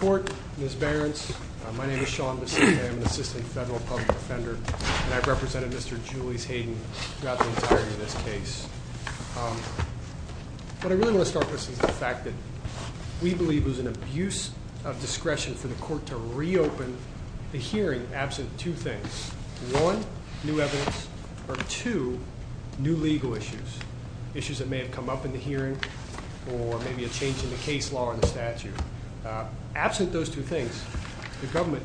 What I really want to start with is the fact that we believe it was an abuse of discretion for the court to re-open the hearing absent two things, one, new evidence, or two, new legal issues, issues that may have come up in the hearing or maybe a change in the case absent those two things, the government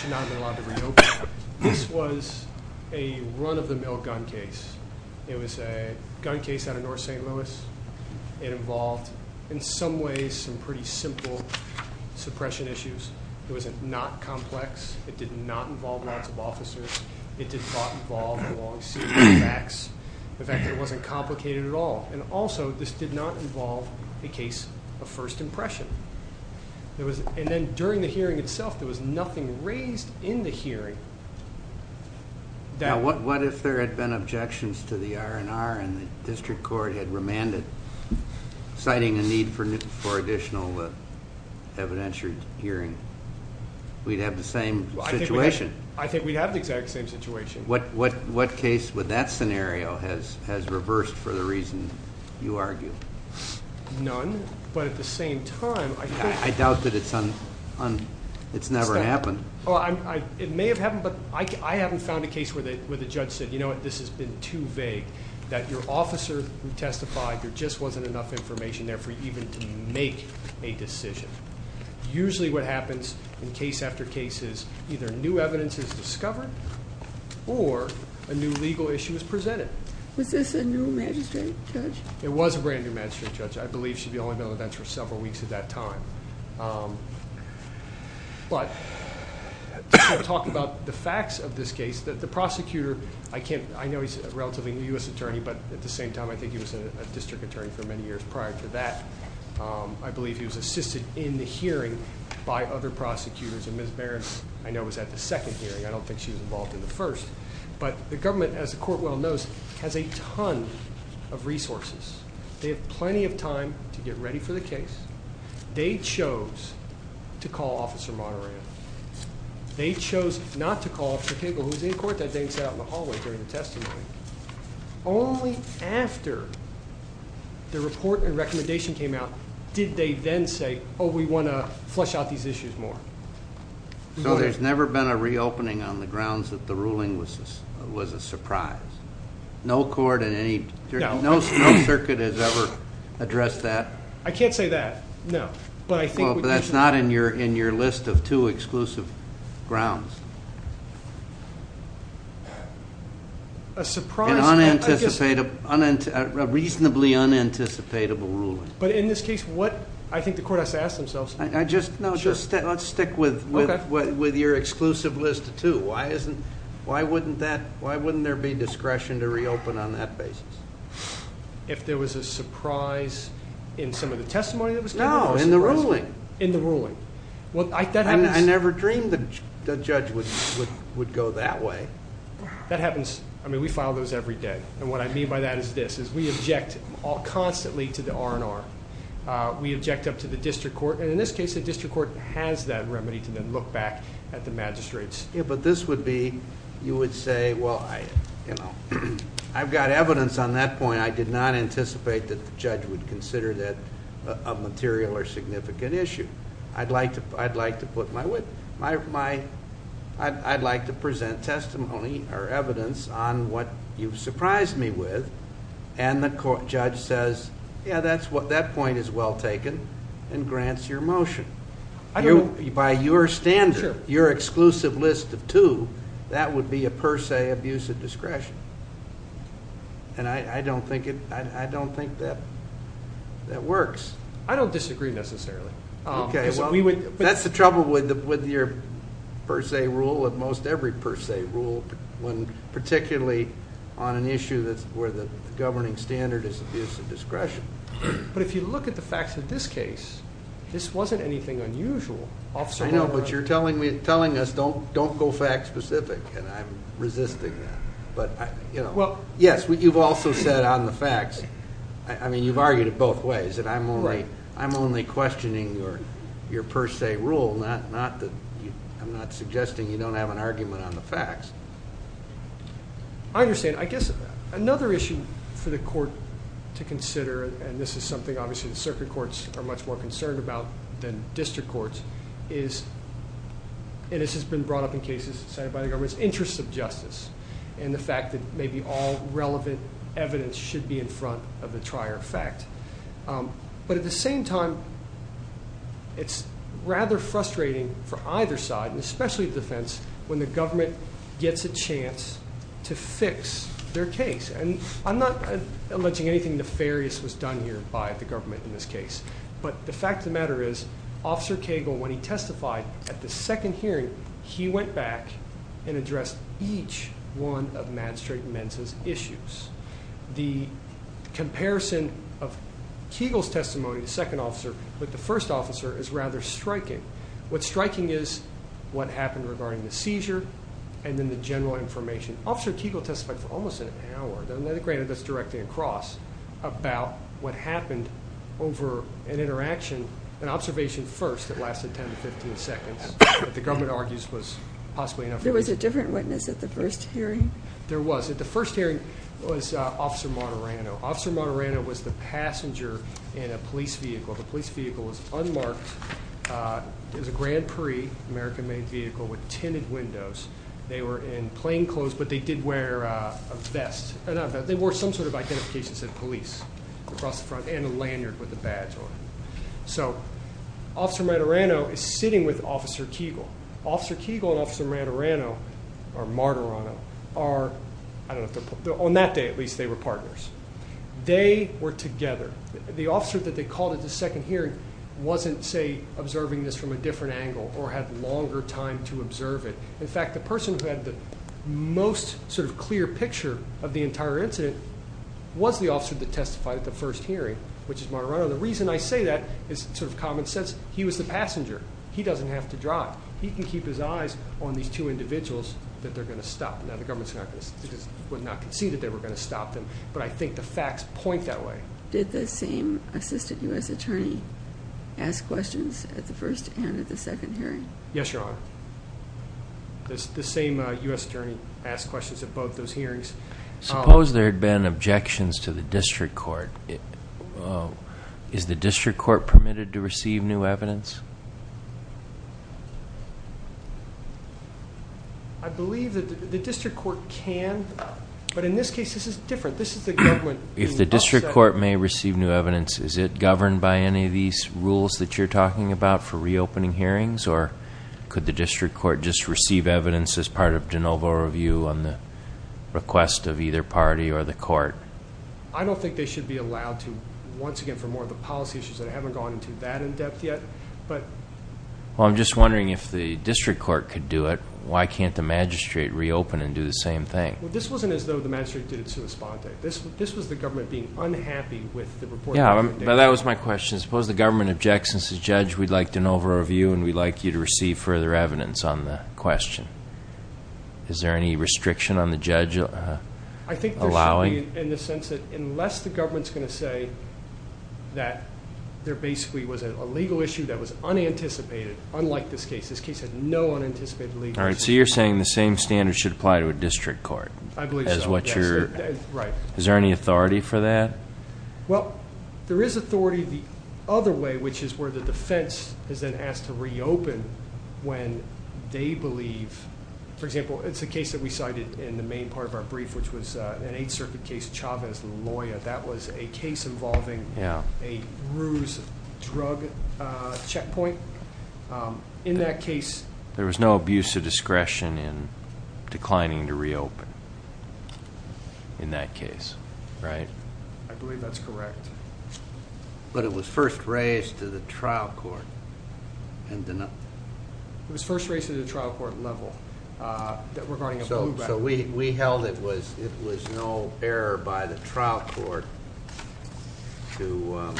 should not have been allowed to re-open. This was a run-of-the-mill gun case. It was a gun case out of North St. Louis. It involved, in some ways, some pretty simple suppression issues. It was not complex. It did not involve lots of officers. It did not involve a long series of facts. The fact that it wasn't complicated at all. And also, this did not involve a case of first impression. And then during the hearing itself, there was nothing raised in the hearing that... What if there had been objections to the R&R and the district court had remanded citing a need for additional evidentiary hearing? We'd have the same situation. I think we'd have the exact same situation. What case with that scenario has reversed for the reason you argue? None, but at the same time, I think... I doubt that it's never happened. It may have happened, but I haven't found a case where the judge said, you know what, this has been too vague, that your officer who testified, there just wasn't enough information there for you even to make a decision. Usually what happens in case after case is either new evidence is discovered or a new legal issue is presented. Was this a new magistrate judge? It was a brand new magistrate judge. I believe she'd only been on the bench for several weeks at that time. But to talk about the facts of this case, the prosecutor, I know he's a relatively new U.S. attorney, but at the same time, I think he was a district attorney for many years prior to that. I believe he was assisted in the hearing by other prosecutors. And Ms. Barron, I know, was at the second hearing. I don't think she was involved in the first. But the government, as the court well knows, has a ton of resources. They have plenty of time to get ready for the case. They chose to call Officer Monterey. They chose not to call Officer Kegel, who was in court that day and sat out in the hallway during the testimony. Only after the report and recommendation came out did they then say, oh, we want to flesh out these issues more. So there's never been a reopening on the grounds that the ruling was a surprise? No court in any, no circuit has ever addressed that? I can't say that, no. But that's not in your list of two exclusive grounds. A surprise? A reasonably unanticipated ruling. But in this case, I think the court has to ask themselves. No, just let's stick with your exclusive list of two. Why wouldn't there be discretion to reopen on that basis? If there was a surprise in some of the testimony that was given? No, in the ruling. In the ruling. I never dreamed the judge would go that way. That happens. I mean, we file those every day. And what I mean by that is this, is we object constantly to the R&R. We object up to the district court. And in this case, the district court has that remedy to then look back at the magistrates. Yeah, but this would be, you would say, well, I've got evidence on that point. I did not anticipate that the judge would consider that a material or significant issue. I'd like to present testimony or evidence on what you've surprised me with. And the judge says, yeah, that point is well taken and grants your motion. By your standard, your exclusive list of two, that would be a per se abuse of discretion. And I don't think that works. I don't disagree necessarily. Okay, well, that's the trouble with your per se rule and most every per se rule, particularly on an issue where the governing standard is abuse of discretion. But if you look at the facts of this case, this wasn't anything unusual. I know, but you're telling us don't go fact specific, and I'm resisting that. Yes, you've also said on the facts, I mean, you've argued it both ways. I'm only questioning your per se rule. I'm not suggesting you don't have an argument on the facts. I understand. I guess another issue for the court to consider, and this is something obviously the circuit courts are much more concerned about than district courts, is, and this has been brought up in cases cited by the government, and the fact that maybe all relevant evidence should be in front of the trier of fact. But at the same time, it's rather frustrating for either side, and especially the defense, when the government gets a chance to fix their case. And I'm not alleging anything nefarious was done here by the government in this case, but the fact of the matter is Officer Cagle, when he testified at the second hearing, he went back and addressed each one of Matt Straitman's issues. The comparison of Cagle's testimony, the second officer, with the first officer is rather striking. What's striking is what happened regarding the seizure and then the general information. Officer Cagle testified for almost an hour, and let it granted that's directly across, about what happened over an interaction, an observation first that lasted 10 to 15 seconds that the government argues was possibly enough evidence. There was a different witness at the first hearing? There was. At the first hearing, it was Officer Monterano. Officer Monterano was the passenger in a police vehicle. The police vehicle was unmarked. It was a Grand Prix, American-made vehicle, with tinted windows. They were in plain clothes, but they did wear a vest. They wore some sort of identification that said police across the front and a lanyard with a badge on it. So Officer Monterano is sitting with Officer Cagle. Officer Cagle and Officer Monterano are, I don't know if they're partners. On that day, at least, they were partners. They were together. The officer that they called at the second hearing wasn't, say, observing this from a different angle or had longer time to observe it. In fact, the person who had the most sort of clear picture of the entire incident was the officer that testified at the first hearing, which is Monterano. The reason I say that is sort of common sense. He was the passenger. He doesn't have to drive. He can keep his eyes on these two individuals that they're going to stop. Now, the government would not concede that they were going to stop them, but I think the facts point that way. Did the same assistant U.S. attorney ask questions at the first and at the second hearing? Yes, Your Honor. The same U.S. attorney asked questions at both those hearings. Suppose there had been objections to the district court. Is the district court permitted to receive new evidence? I believe that the district court can, but in this case this is different. This is the government. If the district court may receive new evidence, is it governed by any of these rules that you're talking about for reopening hearings, or could the district court just receive evidence as part of de novo review on the request of either party or the court? I don't think they should be allowed to, once again, for more of the policy issues, and I haven't gone into that in depth yet. Well, I'm just wondering if the district court could do it, why can't the magistrate reopen and do the same thing? This wasn't as though the magistrate did it sui sponte. This was the government being unhappy with the report. That was my question. Suppose the government objects and says, Judge, we'd like de novo review and we'd like you to receive further evidence on the question. Is there any restriction on the judge allowing? I think there should be in the sense that unless the government is going to say that there basically was a legal issue that was unanticipated, unlike this case. This case had no unanticipated legal issues. All right, so you're saying the same standards should apply to a district court. I believe so. Is there any authority for that? Well, there is authority the other way, which is where the defense is then asked to reopen when they believe, for example, it's a case that we cited in the main part of our brief, which was an Eighth Circuit case, Chavez-Loya, that was a case involving a ruse drug checkpoint. In that case, there was no abuse of discretion in declining to reopen. In that case, right? I believe that's correct. But it was first raised to the trial court. It was first raised to the trial court level regarding a blue record. So we held it was no error by the trial court to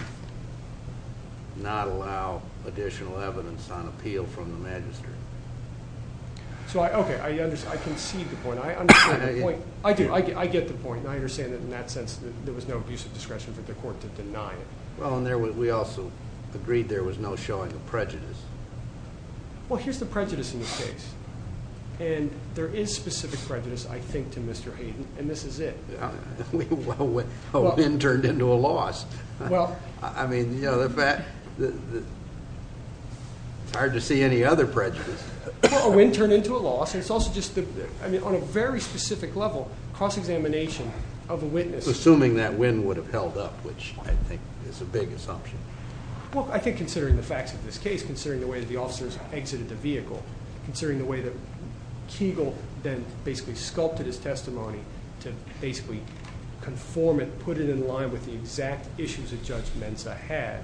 not allow additional evidence on appeal from the magistrate. Okay, I concede the point. I understand the point. I do. I get the point. I understand that in that sense there was no abuse of discretion for the court to deny it. Well, and we also agreed there was no showing of prejudice. Well, here's the prejudice in this case. And there is specific prejudice, I think, to Mr. Hayden, and this is it. A win turned into a loss. I mean, you know, it's hard to see any other prejudice. Well, a win turned into a loss. I mean, on a very specific level, cross-examination of a witness. Assuming that win would have held up, which I think is a big assumption. Well, I think considering the facts of this case, considering the way that the officers exited the vehicle, considering the way that Kegel then basically sculpted his testimony to basically conform it, put it in line with the exact issues that Judge Mensah had,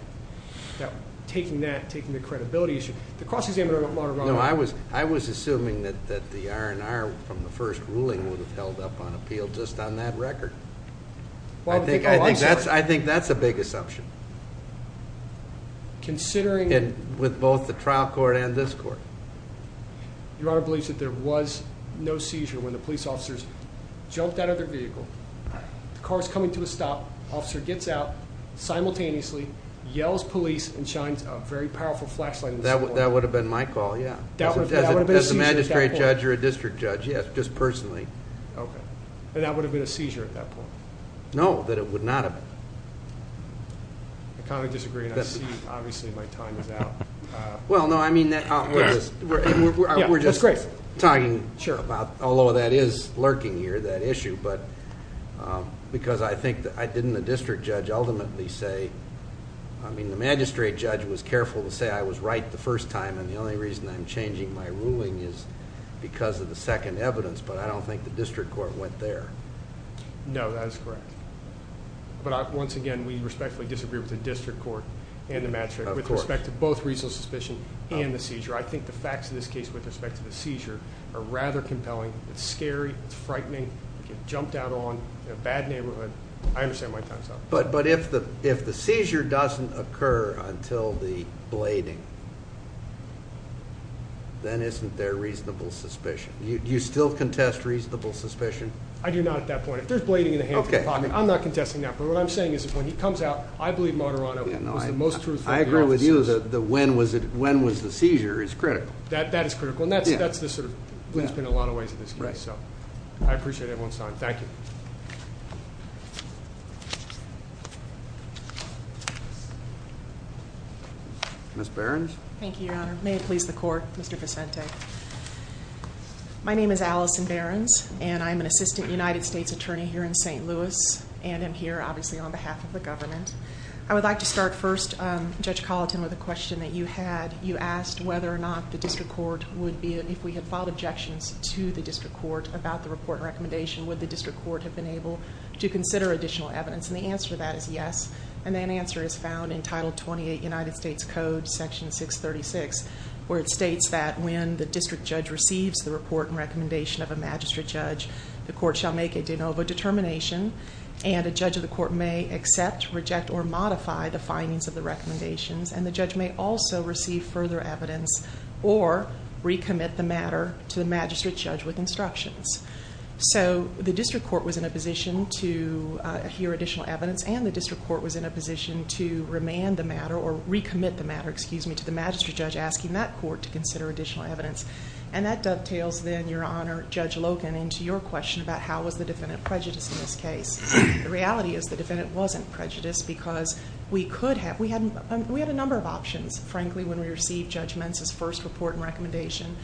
that taking that, taking the credibility issue. The cross-examination of a moderator. No, I was assuming that the R&R from the first ruling would have held up on appeal just on that record. I think that's a big assumption. Considering. With both the trial court and this court. Your Honor believes that there was no seizure when the police officers jumped out of their vehicle, the car is coming to a stop, the officer gets out simultaneously, yells, police, and shines a very powerful flashlight. That would have been my call, yeah. As a magistrate judge or a district judge, yes, just personally. Okay. And that would have been a seizure at that point? No, that it would not have. I kind of disagree, and I see obviously my time is out. Well, no, I mean, we're just talking about, although that is lurking here, that issue, but because I think, didn't the district judge ultimately say, I mean, the magistrate judge was careful to say I was right the first time, and the only reason I'm changing my ruling is because of the second evidence, but I don't think the district court went there. No, that is correct. But once again, we respectfully disagree with the district court and the magistrate. Of course. With respect to both reasonable suspicion and the seizure. I think the facts of this case with respect to the seizure are rather compelling. It's scary. It's frightening. You get jumped out on in a bad neighborhood. I understand my time is up. But if the seizure doesn't occur until the blading, then isn't there reasonable suspicion? Do you still contest reasonable suspicion? I do not at that point. If there's blading in the hands of the department, I'm not contesting that. But what I'm saying is that when he comes out, I believe Moderato was the most truthful. I agree with you that when was the seizure is critical. That is critical. That sort of blends in a lot of ways in this case. I appreciate everyone's time. Thank you. Ms. Behrens. Thank you, Your Honor. May it please the court, Mr. Vicente. My name is Allison Behrens, and I'm an assistant United States attorney here in St. Louis. And I'm here, obviously, on behalf of the government. I would like to start first, Judge Colleton, with a question that you had. You asked whether or not the district court would be, if we had filed objections to the district court, about the report and recommendation, would the district court have been able to consider additional evidence? And the answer to that is yes. And that answer is found in Title 28, United States Code, Section 636, where it states that when the district judge receives the report and recommendation of a magistrate judge, the court shall make a de novo determination. And a judge of the court may accept, reject, or modify the findings of the recommendations. And the judge may also receive further evidence or recommit the matter to the magistrate judge with instructions. So the district court was in a position to hear additional evidence, and the district court was in a position to remand the matter, or recommit the matter, excuse me, to the magistrate judge, asking that court to consider additional evidence. And that dovetails, then, Your Honor, Judge Logan, into your question about how was the defendant prejudiced in this case. The reality is the defendant wasn't prejudiced because we had a number of options, frankly, when we received Judge Mensah's first report and recommendation.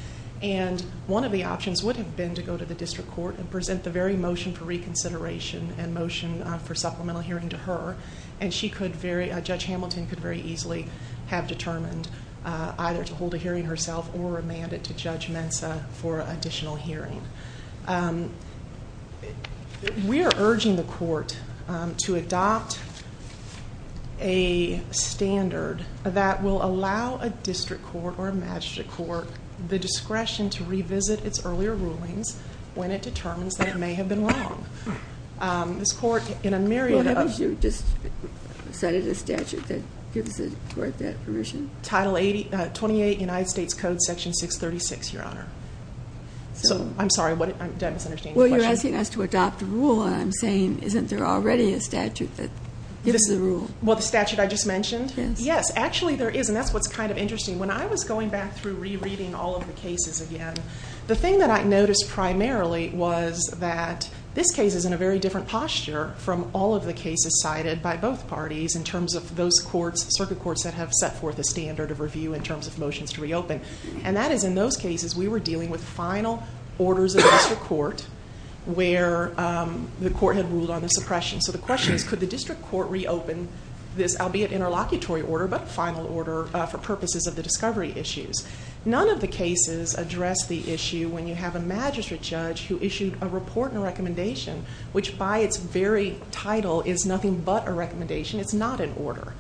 And one of the options would have been to go to the district court and present the very motion for reconsideration and motion for supplemental hearing to her. And Judge Hamilton could very easily have determined either to hold a hearing herself or remand it to Judge Mensah for additional hearing. We are urging the court to adopt a standard that will allow a district court or a magistrate court the discretion to revisit its earlier rulings when it determines that it may have been wrong. This court, in a myriad of- Well, haven't you just cited a statute that gives the court that permission? Title 28, United States Code, Section 636, Your Honor. I'm sorry, did I misunderstand your question? Well, you're asking us to adopt a rule, and I'm saying isn't there already a statute that gives the rule? Well, the statute I just mentioned? Yes. Yes, actually there is, and that's what's kind of interesting. When I was going back through rereading all of the cases again, the thing that I noticed primarily was that this case is in a very different posture from all of the cases cited by both parties in terms of those circuit courts that have set forth a standard of review in terms of motions to reopen. And that is in those cases we were dealing with final orders of the district court where the court had ruled on the suppression. So the question is could the district court reopen this, albeit interlocutory order, but final order for purposes of the discovery issues? None of the cases address the issue when you have a magistrate judge who issued a report and a recommendation, which by its very title is nothing but a recommendation. It's not an order.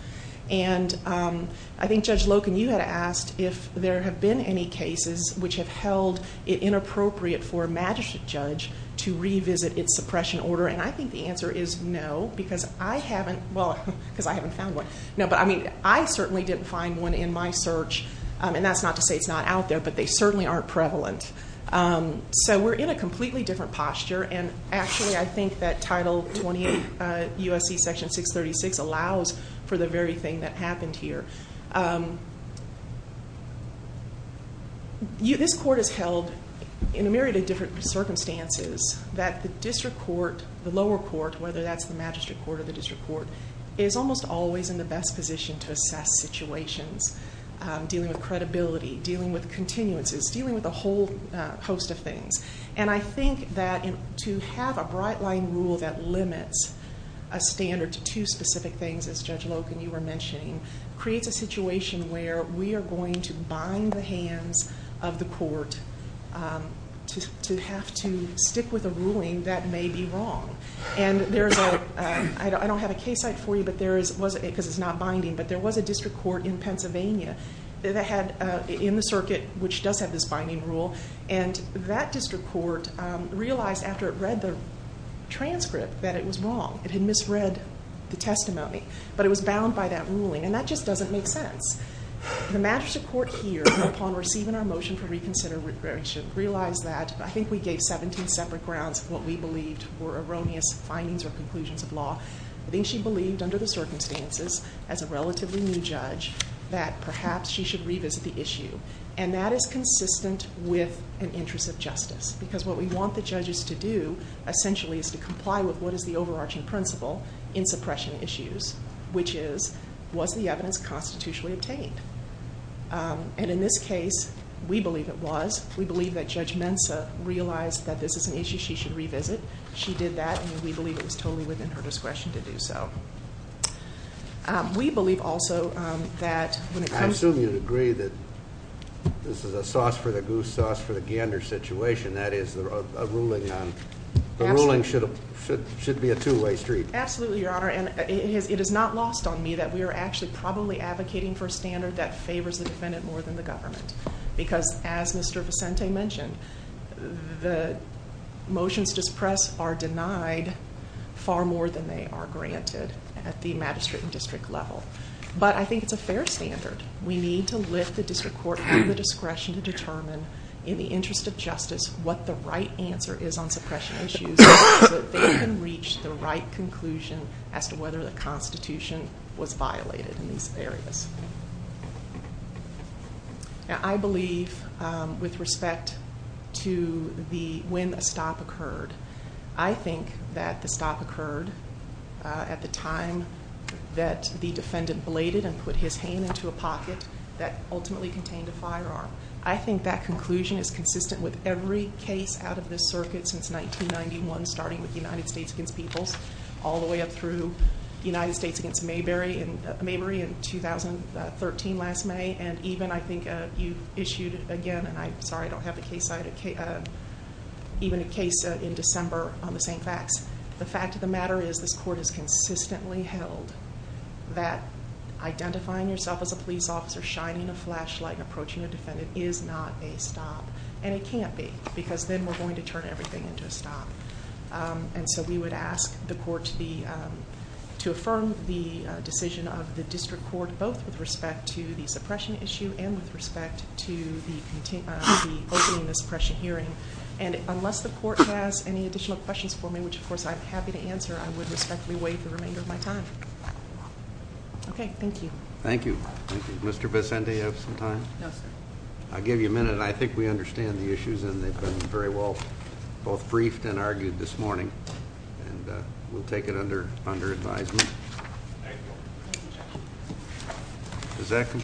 And I think Judge Loken, you had asked if there have been any cases which have held it inappropriate for a magistrate judge to revisit its suppression order, and I think the answer is no because I haven't found one. No, but I mean I certainly didn't find one in my search, and that's not to say it's not out there, but they certainly aren't prevalent. So we're in a completely different posture, and actually I think that Title 28 U.S.C. Section 636 allows for the very thing that happened here. This court has held, in a myriad of different circumstances, that the district court, the lower court, whether that's the magistrate court or the district court, is almost always in the best position to assess situations, dealing with credibility, dealing with continuances, dealing with a whole host of things. And I think that to have a bright-line rule that limits a standard to two specific things, as Judge Loken, you were mentioning, creates a situation where we are going to bind the hands of the court to have to stick with a ruling that may be wrong. And I don't have a case site for you because it's not binding, but there was a district court in Pennsylvania in the circuit which does have this binding rule, and that district court realized after it read the transcript that it was wrong. It had misread the testimony, but it was bound by that ruling, and that just doesn't make sense. The magistrate court here, upon receiving our motion for reconsideration, realized that I think we gave 17 separate grounds of what we believed were erroneous findings or conclusions of law. I think she believed, under the circumstances, as a relatively new judge, that perhaps she should revisit the issue. And that is consistent with an interest of justice, because what we want the judges to do essentially is to comply with what is the overarching principle in suppression issues, which is, was the evidence constitutionally obtained? And in this case, we believe it was. We believe that Judge Mensah realized that this is an issue she should revisit. She did that, and we believe it was totally within her discretion to do so. We believe also that when it comes to- I assume you'd agree that this is a sauce for the goose, sauce for the gander situation. That is, a ruling on- Absolutely. The ruling should be a two-way street. Absolutely, Your Honor, and it is not lost on me that we are actually probably advocating for a standard that favors the defendant more than the government. Because, as Mr. Vicente mentioned, the motions to suppress are denied far more than they are granted at the magistrate and district level. But I think it's a fair standard. We need to lift the district court out of the discretion to determine, in the interest of justice, what the right answer is on suppression issues so that they can reach the right conclusion as to whether the constitution was violated in these areas. I believe, with respect to when a stop occurred, I think that the stop occurred at the time that the defendant bladed and put his hand into a pocket that ultimately contained a firearm. I think that conclusion is consistent with every case out of this circuit since 1991, starting with United States against Peoples, all the way up through United States against Mayberry in 2013, last May. And even, I think, you issued again, and I'm sorry I don't have the case, even a case in December on the same facts. The fact of the matter is this court has consistently held that identifying yourself as a police officer, shining a flashlight, and approaching a defendant is not a stop. And it can't be, because then we're going to turn everything into a stop. And so we would ask the court to affirm the decision of the district court, both with respect to the suppression issue and with respect to the opening the suppression hearing. And unless the court has any additional questions for me, which of course I'm happy to answer, I would respectfully wait the remainder of my time. Okay, thank you. Thank you. Mr. Vicente, do you have some time? No, sir. I'll give you a minute. I think we understand the issues, and they've been very well both briefed and argued this morning. And we'll take it under advisement. Thank you. Does that conclude?